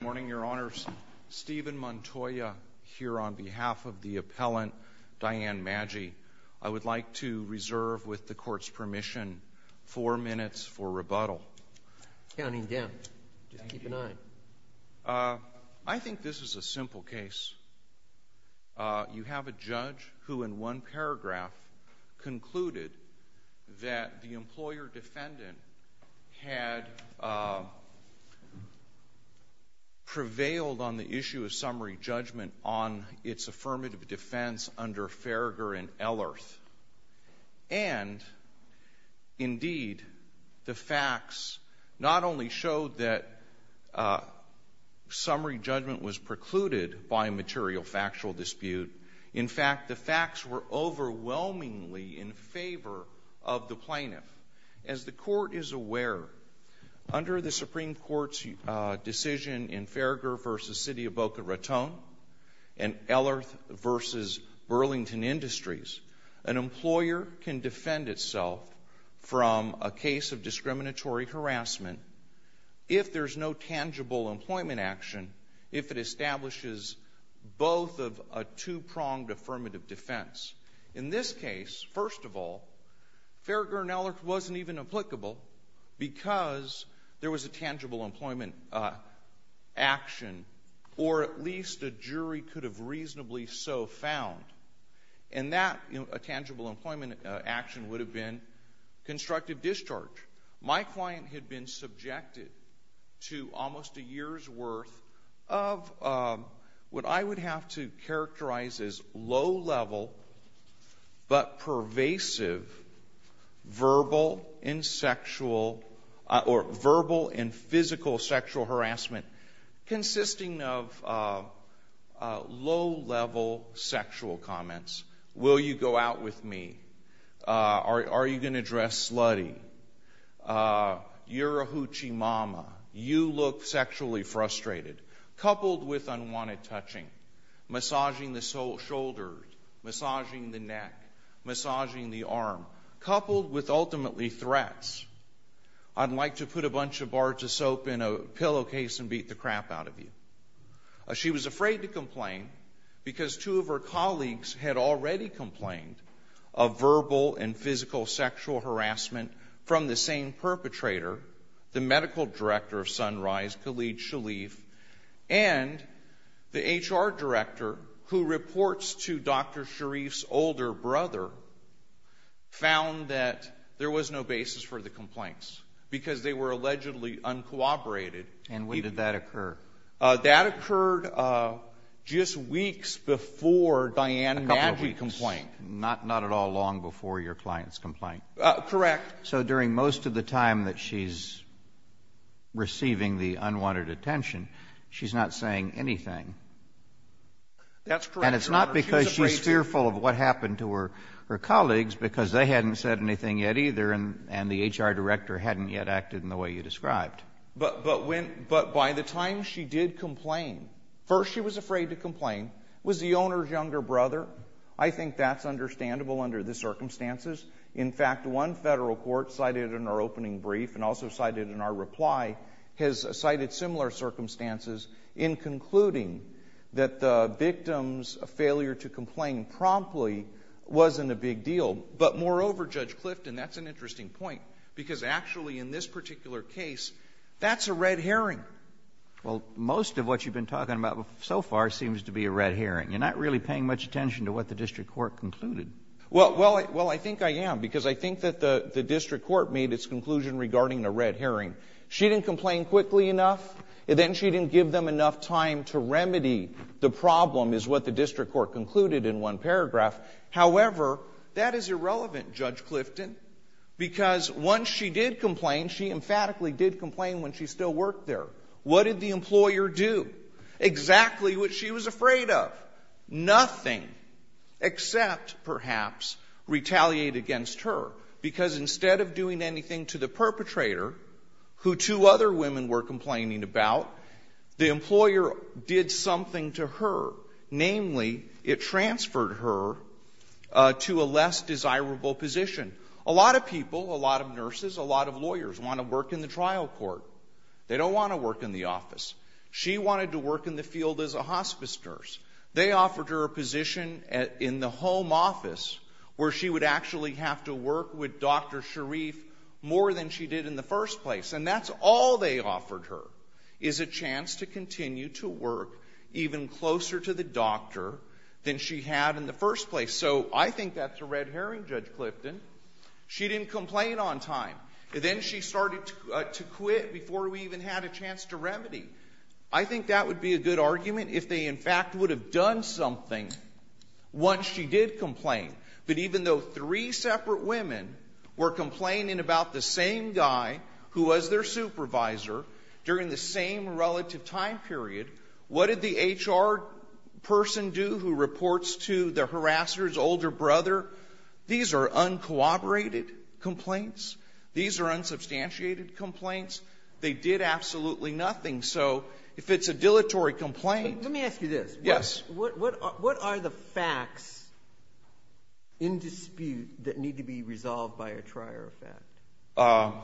Good morning, Your Honors. Stephen Montoya here on behalf of the appellant, Diane Maggi. I would like to reserve, with the Court's permission, four minutes for rebuttal. Counting down. Just keep an eye. I think this is a simple case. You have a judge who, in one paragraph, concluded that the employer-defendant had prevailed on the issue of summary judgment on its affirmative defense under Farragher and Ellerth. And, indeed, the facts not only showed that summary judgment was precluded by a material factual dispute. In fact, the facts were overwhelmingly in favor of the plaintiff. As the Court is aware, under the Supreme Court's decision in Farragher v. City of Boca Raton and Ellerth v. Burlington Industries, an employer can defend itself from a case of discriminatory harassment if there's no tangible employment action, if it establishes both of a two-pronged affirmative defense. In this case, first of all, Farragher and Ellerth wasn't even applicable because there was a tangible employment action, or at least a jury could have reasonably so found. And that tangible employment action would have been constructive discharge. My client had been subjected to almost a year's worth of what I would have to characterize as low-level but pervasive verbal and physical sexual harassment consisting of low-level sexual comments. Will you go out with me? Are you going to dress slutty? You're a hoochie massaging the neck, massaging the arm, coupled with ultimately threats. I'd like to put a bunch of barges soap in a pillowcase and beat the crap out of you. She was afraid to complain because two of her colleagues had already complained of verbal and physical sexual harassment from the same perpetrator, the medical director of Sunrise, Khalid Shaleef, and the HR director who reports to Dr. Shaleef's older brother, found that there was no basis for the complaints because they were allegedly uncooperated. And when did that occur? That occurred just weeks before Diane Madgey's complaint. Not at all long before your client's complaint. Correct. So during most of the time that she's receiving the unwanted attention, she's not saying anything. That's correct, Your Honor. And it's not because she's fearful of what happened to her colleagues because they hadn't said anything yet either and the HR director hadn't yet acted in the way you described. But by the time she did complain, first she was afraid to complain. It was the owner's younger brother. I think that's understandable under the circumstances. In fact, one federal court cited in our opening brief and also cited in our reply has cited similar circumstances in concluding that the victim's failure to complain promptly wasn't a big deal. But moreover, Judge Clifton, that's an interesting point because actually in this particular case, that's a red herring. Well, most of what you've been talking about so far seems to be a red herring. You're not really paying much attention to what the district court concluded. Well, I think I am because I think that the district court made its conclusion regarding the red herring. She didn't complain quickly enough and then she didn't give them enough time to remedy the problem is what the district court concluded in one paragraph. However, that is irrelevant, Judge Clifton, because once she did complain, she emphatically did complain when she still worked there. What did the employer do? Exactly what she was afraid of. Nothing except perhaps retaliate against her because instead of doing anything to the perpetrator, who two other women were complaining about, the employer did something to her, namely it transferred her to a less desirable position. A lot of people, a lot of nurses, a lot of lawyers want to work in the trial court. They don't want to work in the office. She wanted to work in the field as a hospice nurse. They offered her a position in the home office where she would actually have to work with Dr. Sharif more than she did in the first place. And that's all they offered her, is a chance to continue to work even closer to the doctor than she had in the first place. So I think that's a red herring, Judge Clifton. She didn't complain on time. Then she started to quit before we even had a chance to remedy. I think that would be a good argument if they, in fact, would have done something once she did complain. But even though three separate women were complaining about the same guy who was their supervisor during the same relative time period, what did the HR person do who reports to the harasser's older brother? These are uncooperated complaints. These are unsubstantiated complaints. They did absolutely nothing. So if it's a dilatory complaint --" Sotomayor, let me ask you this. Yes. What are the facts in dispute that need to be resolved by a trier of fact?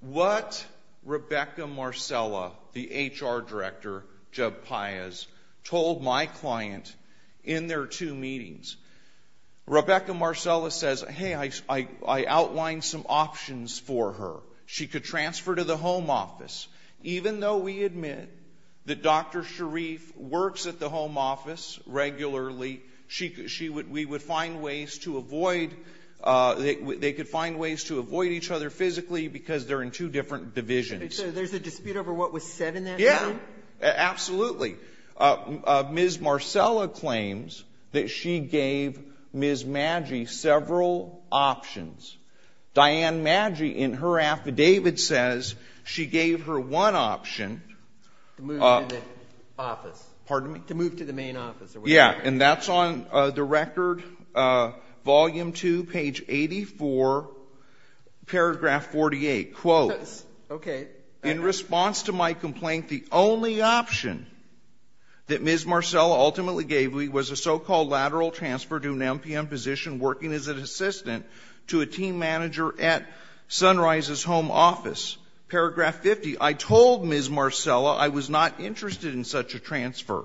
What Rebecca Marcella, the HR director, told my client in their two meetings, Rebecca Marcella says, hey, I outlined some options for her. She could transfer to the home office. Even though we admit that Dr. Sharif works at the home office regularly, she would we would find ways to avoid they could find ways to avoid each other physically because they're in two different divisions. So there's a dispute over what was said in that meeting? Yeah. Absolutely. Ms. Marcella claims that she gave Ms. Maggi several options. Diane Maggi, in her affidavit, says she gave her one option. To move to the office. Pardon me? To move to the main office. Yeah. And that's on the record, Volume 2, page 84, paragraph 48. Quote, in response to my complaint, the only option that Ms. Marcella ultimately gave me was a so-called lateral transfer to an MPM position working as an assistant to a team manager at the Sunrise's home office. Paragraph 50, I told Ms. Marcella I was not interested in such a transfer.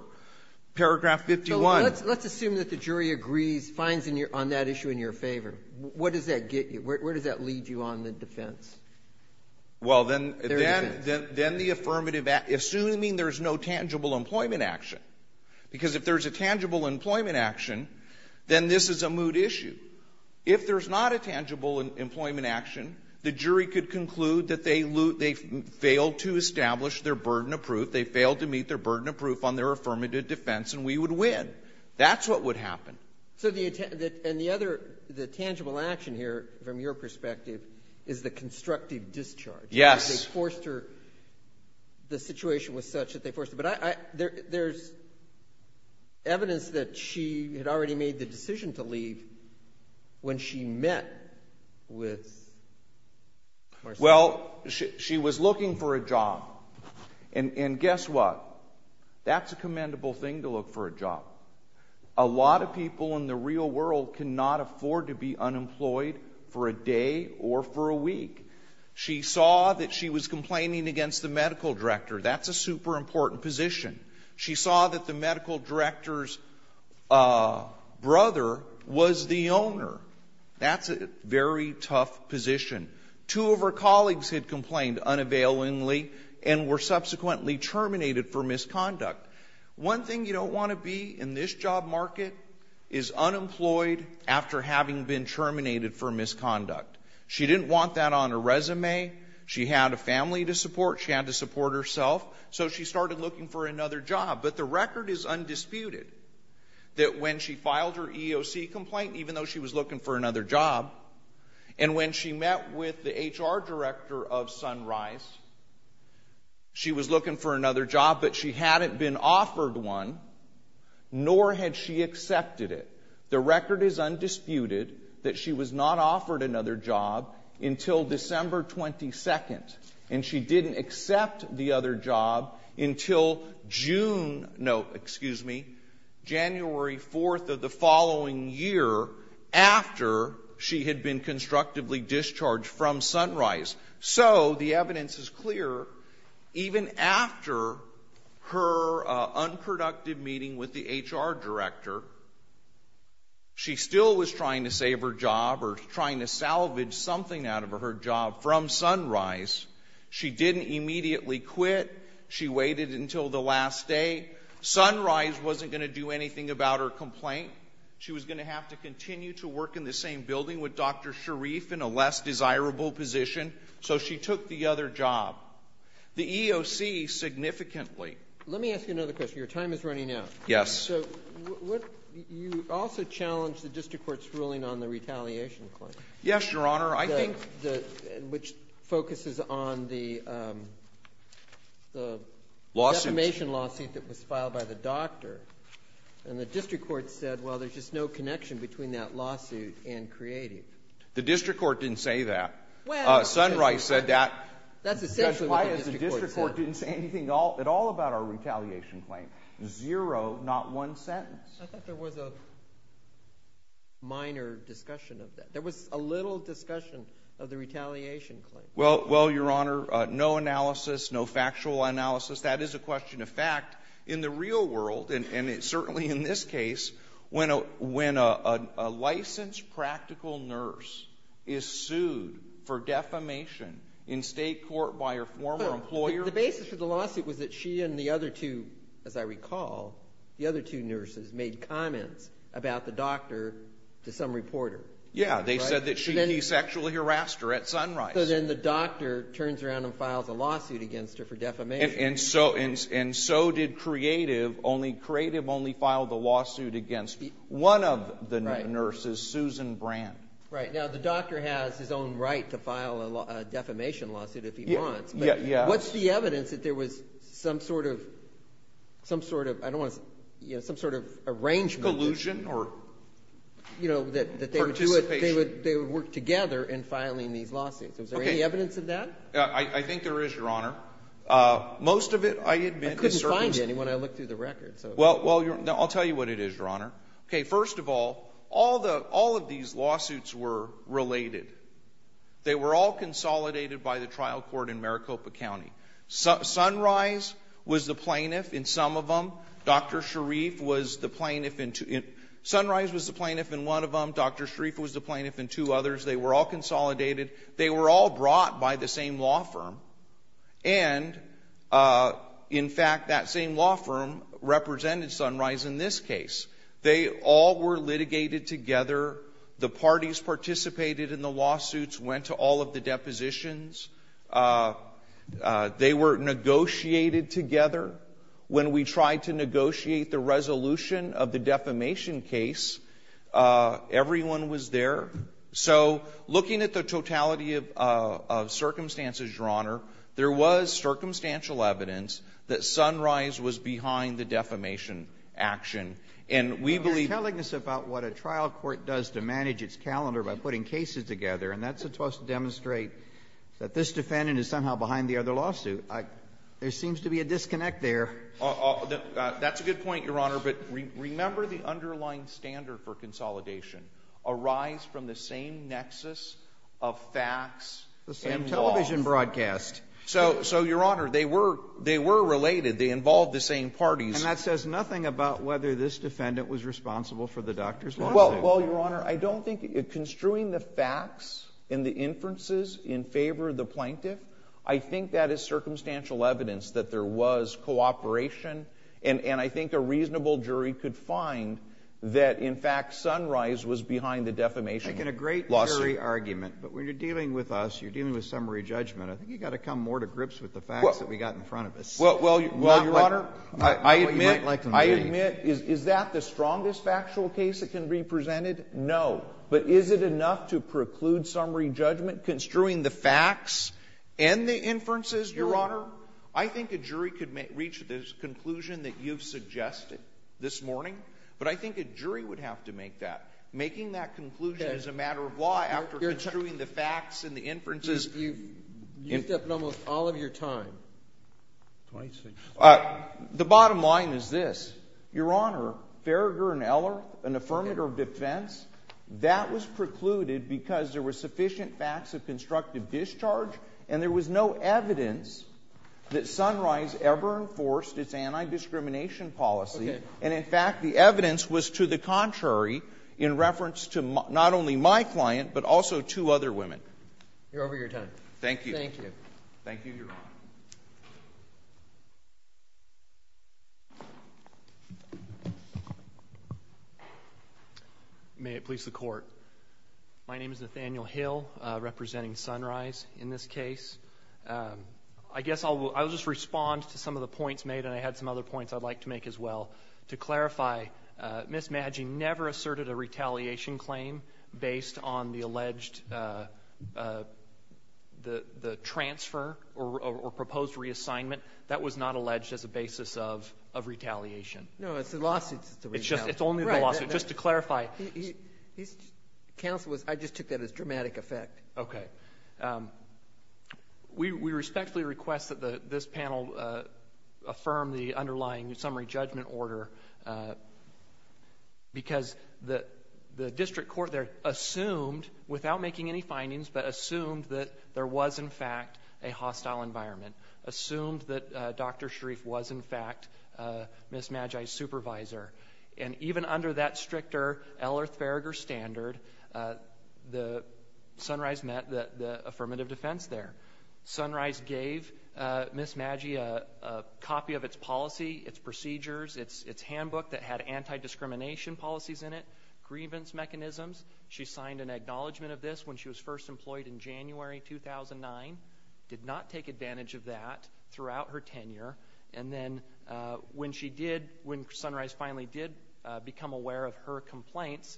Paragraph 51 ---- So let's assume that the jury agrees, finds on that issue in your favor. What does that get you? Where does that lead you on the defense? Well, then the affirmative act, assuming there's no tangible employment action. Because if there's a tangible employment action, then this is a moot issue. If there's not a tangible employment action, the jury could conclude that they failed to establish their burden of proof. They failed to meet their burden of proof on their affirmative defense, and we would win. That's what would happen. So the other tangible action here, from your perspective, is the constructive discharge. Yes. Because they forced her. The situation was such that they forced her. There's evidence that she had already made the decision to leave when she met with Marcella. Well, she was looking for a job. And guess what? That's a commendable thing to look for a job. A lot of people in the real world cannot afford to be unemployed for a day or for a week. She saw that she was complaining against the medical director. That's a super important position. She saw that the medical director's brother was the owner. That's a very tough position. Two of her colleagues had complained unavailingly and were subsequently terminated for misconduct. One thing you don't want to be in this job market is unemployed after having been terminated for misconduct. She had a family to support. She had to support herself. So she started looking for another job. But the record is undisputed that when she filed her EEOC complaint, even though she was looking for another job, and when she met with the HR director of Sunrise, she was looking for another job, but she hadn't been offered one, nor had she accepted it. The record is undisputed that she was not offered another job until December 22nd, and she didn't accept the other job until June — no, excuse me, January 4th of the following year, after she had been constructively discharged from Sunrise. So the evidence is clear. Even after her unproductive meeting with the HR director, she still was trying to save her job or trying to salvage something out of her job from Sunrise. She didn't immediately quit. She waited until the last day. Sunrise wasn't going to do anything about her complaint. She was going to have to continue to work in the same building with Dr. Sharif in a less desirable position. So she took the other job. The EEOC significantly. Let me ask you another question. Your time is running out. Yes. So what — you also challenged the district court's ruling on the retaliation claim. Yes, Your Honor. I think — Which focuses on the defamation lawsuit that was filed by the doctor, and the district court said, well, there's just no connection between that lawsuit and creative. The district court didn't say that. Sunrise said that. Well, that's essentially what the district court said. Judge Wyeth, the district court didn't say anything at all about our retaliation claim. Zero, not one sentence. I thought there was a minor discussion of that. There was a little discussion of the retaliation claim. Well, Your Honor, no analysis, no factual analysis. That is a question of fact. In the real world, and certainly in this case, when a licensed practical nurse is sued for defamation in state court by her former employer — But the basis for the lawsuit was that she and the other two, as I recall, the other two nurses, made comments about the doctor to some reporter. Yeah. They said that she sexually harassed her at Sunrise. So then the doctor turns around and files a lawsuit against her for defamation. And so did creative. Creative only filed the lawsuit against one of the nurses, Susan Brand. Right. Now, the doctor has his own right to file a defamation lawsuit if he wants. Yeah. What's the evidence that there was some sort of — I don't want to — some sort of arrangement — Collusion? Or participation? You know, that they would do it — they would work together in filing these lawsuits. Okay. Is there any evidence of that? I think there is, Your Honor. Most of it, I admit, is — I couldn't find any when I looked through the records, so — Well, I'll tell you what it is, Your Honor. Okay. First of all, all of these lawsuits were related. They were all consolidated by the trial court in Maricopa County. Sunrise was the plaintiff in some of them. Dr. Sharif was the plaintiff in two — Sunrise was the plaintiff in one of them. Dr. Sharif was the plaintiff in two others. They were all consolidated. They were all brought by the same law firm. And in fact, that same law firm represented Sunrise in this case. They all were litigated together. The parties participated in the lawsuits, went to all of the depositions. They were negotiated together. When we tried to negotiate the resolution of the defamation case, everyone was there. So looking at the totality of circumstances, Your Honor, there was circumstantial evidence that Sunrise was behind the defamation action. And we believe — But you're telling us about what a trial court does to manage its calendar by putting cases together, and that's supposed to demonstrate that this defendant is somehow behind the other lawsuit. There seems to be a disconnect there. That's a good point, Your Honor. But remember the underlying standard for consolidation, a rise from the same nexus of facts and law. The same television broadcast. So Your Honor, they were — they were related. They involved the same parties. And that says nothing about whether this defendant was responsible for the doctor's lawsuit. Well, Your Honor, I don't think — construing the facts and the inferences in favor of the plaintiff, I think that is circumstantial evidence that there was cooperation. And I think a reasonable jury could find that, in fact, Sunrise was behind the defamation lawsuit. I think in a great jury argument, but when you're dealing with us, you're dealing with summary judgment. I think you've got to come more to grips with the facts that we've got in front of us. Well, Your Honor — Well, you might like to engage. Is that the strongest factual case that can be presented? No. But is it enough to preclude summary judgment? Construing the facts and the inferences, Your Honor? I think a jury could reach this conclusion that you've suggested this morning. But I think a jury would have to make that. Making that conclusion as a matter of law after construing the facts and the inferences — You've used up almost all of your time. The bottom line is this, Your Honor, Farragher and Eller, an affirmative defense, that was precluded because there were sufficient facts of constructive discharge, and there was no evidence that Sunrise ever enforced its anti-discrimination policy, and in fact, the evidence was to the contrary in reference to not only my client, but also two other women. You're over your time. Thank you. Thank you. Thank you, Your Honor. May it please the Court. My name is Nathaniel Hill, representing Sunrise in this case. I guess I'll just respond to some of the points made, and I had some other points I'd like to make as well. To clarify, Ms. Madje never asserted a retaliation claim based on the alleged — the transfer or proposed reassignment. That was not alleged as a basis of retaliation. No, it's the lawsuit that's a retaliation. It's only the lawsuit. Right. Just to clarify. Counsel, I just took that as dramatic effect. Okay. We respectfully request that this panel affirm the underlying summary judgment order because the district court there assumed, without making any findings, but assumed that there was, in fact, a hostile environment. Assumed that Dr. Sharif was, in fact, Ms. Madje's supervisor. And even under that stricter L. Earth Farragher standard, Sunrise met the affirmative defense there. Sunrise gave Ms. Madje a copy of its policy, its procedures, its handbook that had anti-discrimination policies in it, grievance mechanisms. She signed an acknowledgment of this when she was first employed in January 2009. Did not take advantage of that throughout her tenure. And then when she did — when Sunrise finally did become aware of her complaints,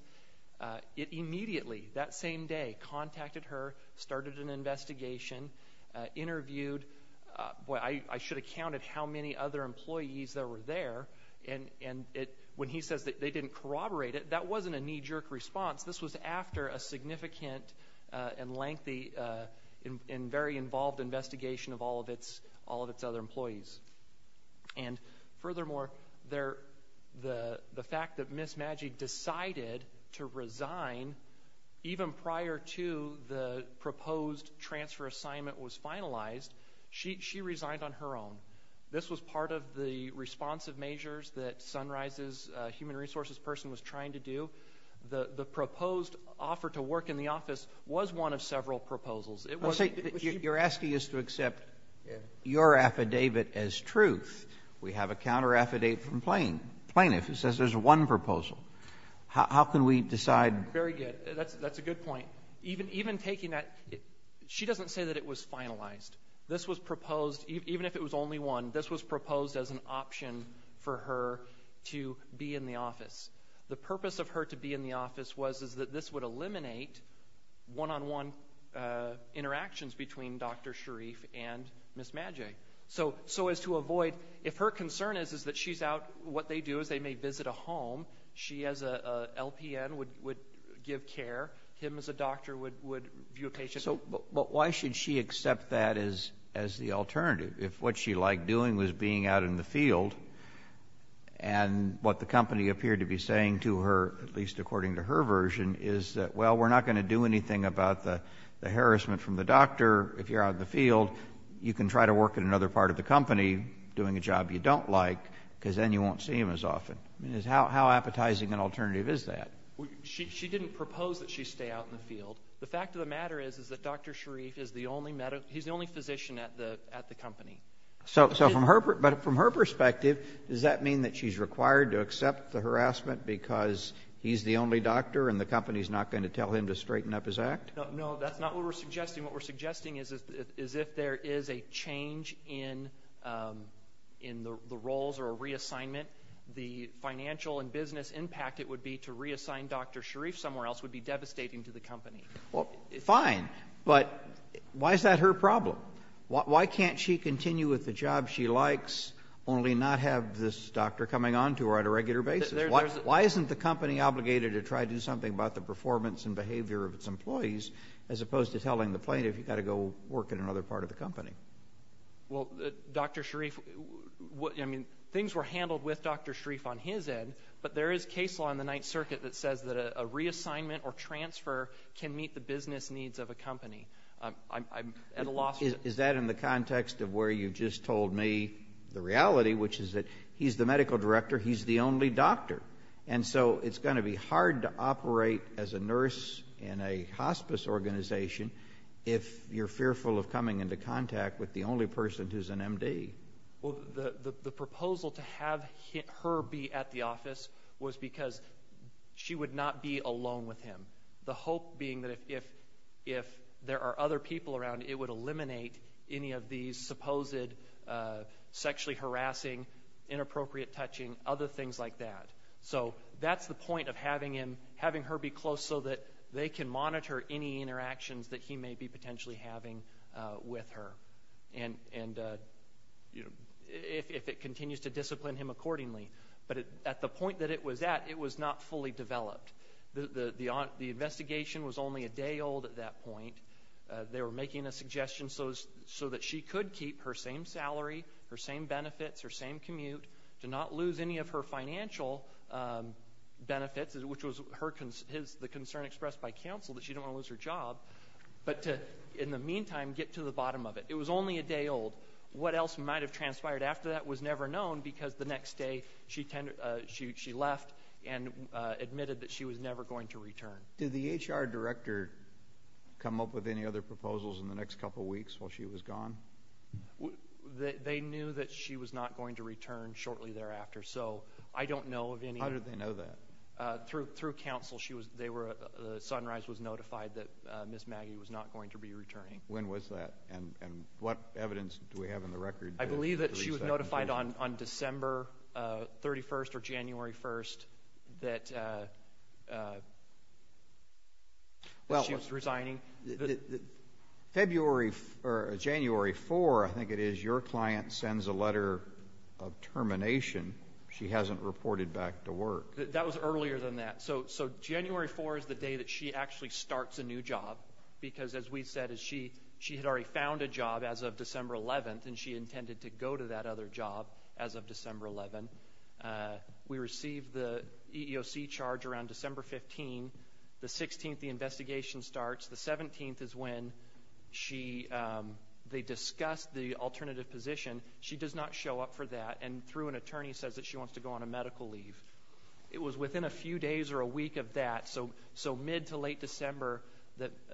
it immediately, that same day, contacted her, started an investigation, interviewed — boy, I should have counted how many other employees that were there. And when he says that they didn't corroborate it, that wasn't a knee-jerk response. This was after a significant and lengthy and very involved investigation of all of its other employees. And furthermore, the fact that Ms. Madje decided to resign even prior to the proposed transfer assignment was finalized, she resigned on her own. This was part of the responsive measures that Sunrise's human resources person was trying to do. The proposed offer to work in the office was one of several proposals. It was — You're asking us to accept your affidavit as truth. We have a counter-affidavit from plaintiff who says there's one proposal. How can we decide — Very good. That's a good point. Even taking that — she doesn't say that it was finalized. This was proposed, even if it was only one, this was proposed as an option for her to be in the office. The purpose of her to be in the office was that this would eliminate one-on-one interactions between Dr. Sharif and Ms. Madje. So as to avoid — if her concern is that she's out, what they do is they may visit a home, she as a LPN would give care, him as a doctor would view a patient — So why should she accept that as the alternative? If what she liked doing was being out in the field, and what the company appeared to be saying to her, at least according to her version, is that, well, we're not going to do anything about the harassment from the doctor, if you're out in the field, you can try to work in another part of the company doing a job you don't like, because then you won't see him as often. How appetizing an alternative is that? She didn't propose that she stay out in the field. The fact of the matter is, is that Dr. Sharif is the only physician at the company. So from her perspective, does that mean that she's required to accept the harassment because he's the only doctor and the company's not going to tell him to straighten up his act? No, that's not what we're suggesting. What we're suggesting is if there is a change in the roles or a reassignment, the financial and business impact it would be to reassign Dr. Sharif somewhere else would be devastating to the company. Well, fine, but why is that her problem? Why can't she continue with the job she likes, only not have this doctor coming on to her on a regular basis? Why isn't the company obligated to try to do something about the performance and behavior of its employees, as opposed to telling the plaintiff you've got to go work in another part of the company? Well, Dr. Sharif, I mean, things were handled with Dr. Sharif on his end, but there is case law in the Ninth Circuit that says that a reassignment or transfer can meet the business needs of a company. Is that in the context of where you've just told me the reality, which is that he's the medical director, he's the only doctor, and so it's going to be hard to operate as a nurse in a hospice organization if you're fearful of coming into contact with the only person who's an MD. Well, the proposal to have her be at the office was because she would not be alone with him. The hope being that if there are other people around, it would eliminate any of these supposed sexually harassing, inappropriate touching, other things like that. So that's the point of having her be close so that they can monitor any interactions that he may be potentially having with her. And if it continues to discipline him accordingly. But at the point that it was at, it was not fully developed. The investigation was only a day old at that point. They were making a suggestion so that she could keep her same salary, her same benefits, her same commute, to not lose any of her financial benefits, which was the concern expressed by counsel that she didn't want to lose her job, but to, in the meantime, get to the bottom of it. It was only a day old. What else might have transpired after that was never known because the next day she left and admitted that she was never going to return. Did the HR director come up with any other proposals in the next couple of weeks while she was gone? They knew that she was not going to return shortly thereafter. So I don't know of any. How did they know that? Through counsel. The Sunrise was notified that Ms. Maggie was not going to be returning. When was that? And what evidence do we have in the record? I believe that she was notified on December 31st or January 1st that she was resigning. February or January 4, I think it is, your client sends a letter of termination. She hasn't reported back to work. That was earlier than that. So January 4 is the day that she actually starts a new job because, as we said, she had already found a job as of December 11th and she intended to go to that other job as of December 11th. We received the EEOC charge around December 15. The 16th, the investigation starts. The 17th is when they discussed the alternative position. She does not show up for that and through an attorney says that she wants to go on a medical leave. It was within a few days or a week of that. So mid to late December,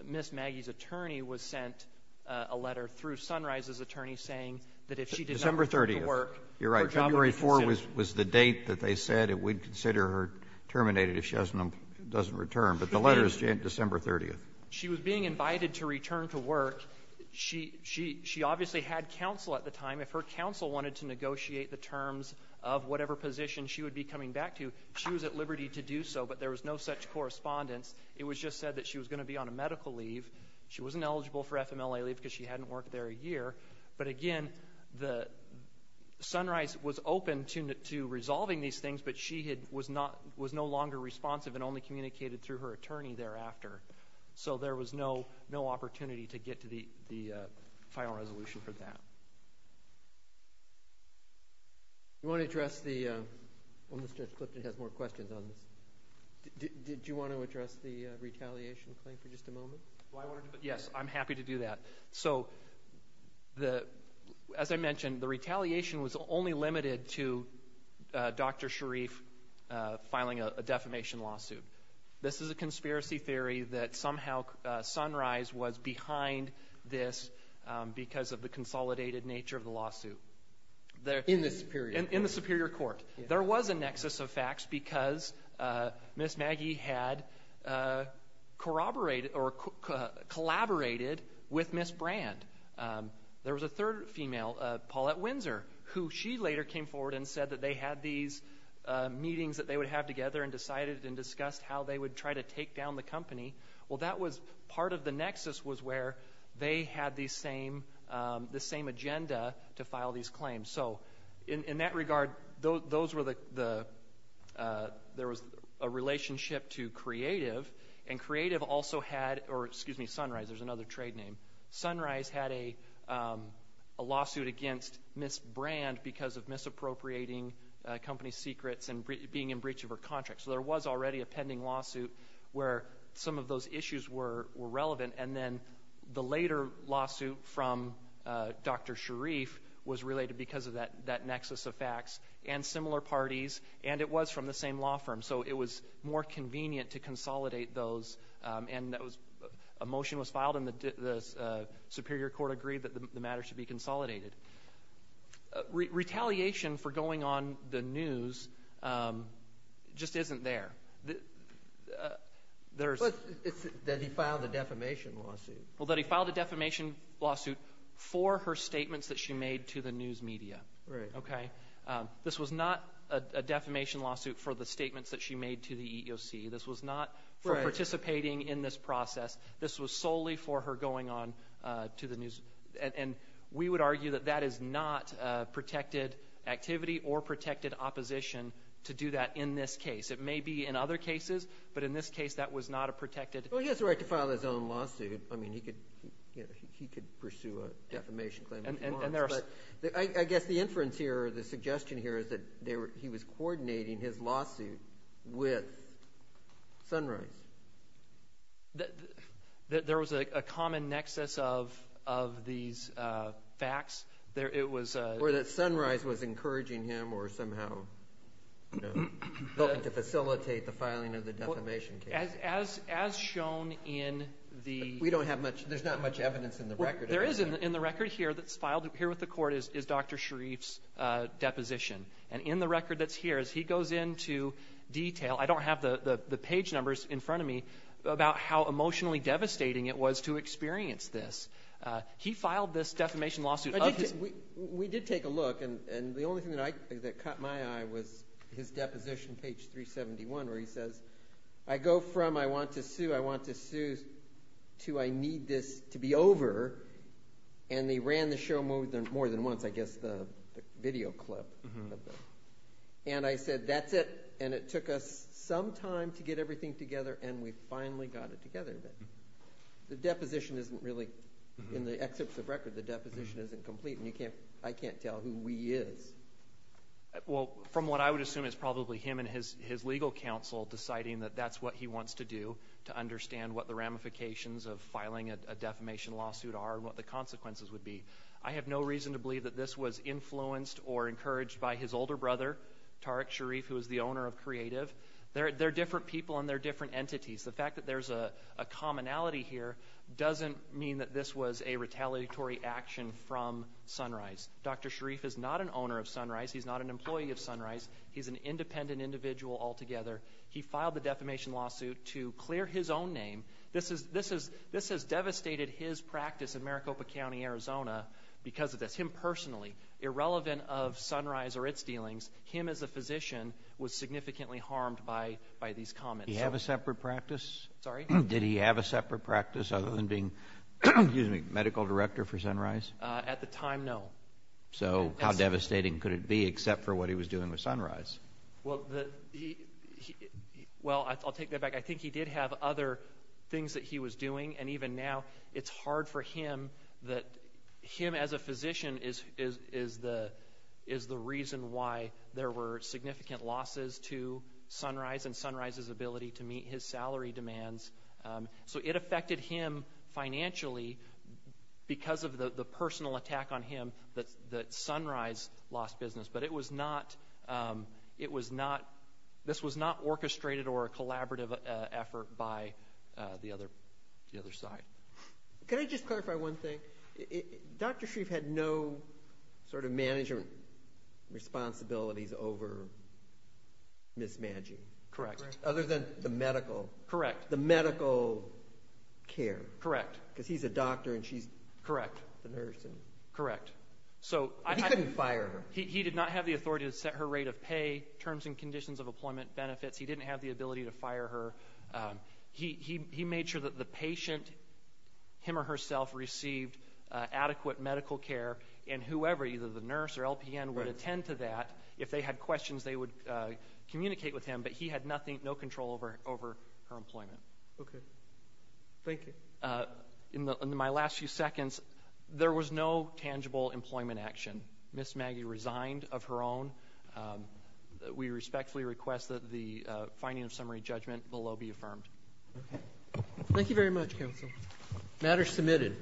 Ms. Maggie's attorney was sent a letter through Sunrise's attorney saying that if she did not return to work, her job would be cancelled. December 30th. You're right. January 4 was the date that they said that we'd consider her terminated if she doesn't return. But the letter is sent December 30th. She was being invited to return to work. She obviously had counsel at the time. If her counsel wanted to negotiate the terms of whatever position she would be coming back to, she was at liberty to do so, but there was no such correspondence. It was just said that she was going to be on a medical leave. She wasn't eligible for FMLA leave because she hadn't worked there a year. But again, Sunrise was open to resolving these things, but she was no longer responsive and only communicated through her attorney thereafter. So there was no opportunity to get to the final resolution for that. You want to address the – well, Mr. Clifton has more questions on this. Did you want to address the retaliation claim for just a moment? Yes, I'm happy to do that. So as I mentioned, the retaliation was only limited to Dr. Sharif filing a defamation lawsuit. This is a conspiracy theory that somehow Sunrise was behind this because of the consolidated nature of the lawsuit. In the Superior Court. In the Superior Court. There was a nexus of facts because Ms. Maggie had collaborated with Ms. Brand. There was a third female, Paulette Windsor, who she later came forward and said that they had these meetings that they would have together and decided and discussed how they would try to take down the company. Well, that was part of the nexus was where they had the same agenda to file these claims. So in that regard, those were the – there was a relationship to Creative, and Creative also had – or, excuse me, Sunrise, there's another trade name. Sunrise had a lawsuit against Ms. Brand because of misappropriating company secrets and being in breach of her contract. So there was already a pending lawsuit where some of those issues were relevant. And then the later lawsuit from Dr. Sharif was related because of that nexus of facts and similar parties, and it was from the same law firm. So it was more convenient to consolidate those. And that was – a motion was filed, and the Superior Court agreed that the matter should be consolidated. Retaliation for going on the news just isn't there. There's – But then he filed a defamation lawsuit. Well, then he filed a defamation lawsuit for her statements that she made to the news media. Right. Okay? This was not a defamation lawsuit for the statements that she made to the EEOC. This was not for participating in this process. This was solely for her going on to the news. And we would argue that that is not protected activity or protected opposition to do that in this case. It may be in other cases, but in this case, that was not a protected – Well, he has the right to file his own lawsuit. I mean, he could pursue a defamation claim if he wants, but I guess the inference here or the suggestion here is that he was coordinating his lawsuit with Sunrise. There was a common nexus of these facts. It was – Or that Sunrise was encouraging him or somehow helping to facilitate the filing of the defamation case. As shown in the – We don't have much – there's not much evidence in the record. Right here that's filed here with the court is Dr. Sharif's deposition. And in the record that's here, as he goes into detail – I don't have the page numbers in front of me about how emotionally devastating it was to experience this. He filed this defamation lawsuit of his – We did take a look, and the only thing that caught my eye was his deposition, page 371, where he says, I go from I want to sue, I want to sue, to I need this to be over, and he ran the show more than once, I guess the video clip. And I said, that's it. And it took us some time to get everything together, and we finally got it together. The deposition isn't really – in the excerpts of record, the deposition isn't complete, and you can't – I can't tell who he is. Well, from what I would assume, it's probably him and his legal counsel deciding that that's what he wants to do, to understand what the ramifications of filing a defamation lawsuit are and what the consequences would be. I have no reason to believe that this was influenced or encouraged by his older brother, Tariq Sharif, who is the owner of Creative. They're different people, and they're different entities. The fact that there's a commonality here doesn't mean that this was a retaliatory action from Sunrise. Dr. Sharif is not an owner of Sunrise. He's not an employee of Sunrise. He's an independent individual altogether. He filed the defamation lawsuit to clear his own name. This has devastated his practice in Maricopa County, Arizona, because of this. Him personally. Irrelevant of Sunrise or its dealings, him as a physician was significantly harmed by these comments. Did he have a separate practice? Sorry? Did he have a separate practice other than being medical director for Sunrise? At the time, no. So how devastating could it be except for what he was doing with Sunrise? Well, I'll take that back. I think he did have other things that he was doing, and even now, it's hard for him. Him as a physician is the reason why there were significant losses to Sunrise and Sunrise's ability to meet his salary demands. So it affected him financially because of the personal attack on him that Sunrise lost business. But this was not orchestrated or a collaborative effort by the other side. Could I just clarify one thing? Dr. Shrieff had no management responsibilities over mismanaging, other than the medical care. Correct. Because he's a doctor and she's the nurse. Correct. He didn't fire her. He did not have the authority to set her rate of pay, terms and conditions of employment benefits. He didn't have the ability to fire her. He made sure that the patient, him or herself, received adequate medical care, and whoever, either the nurse or LPN, would attend to that. If they had questions, they would communicate with him, but he had nothing, no control over her employment. Okay. Thank you. In my last few seconds, there was no tangible employment action. Ms. Maggie resigned of her own. We respectfully request that the finding of summary judgment below be affirmed. Okay. Thank you very much, counsel. Matter submitted.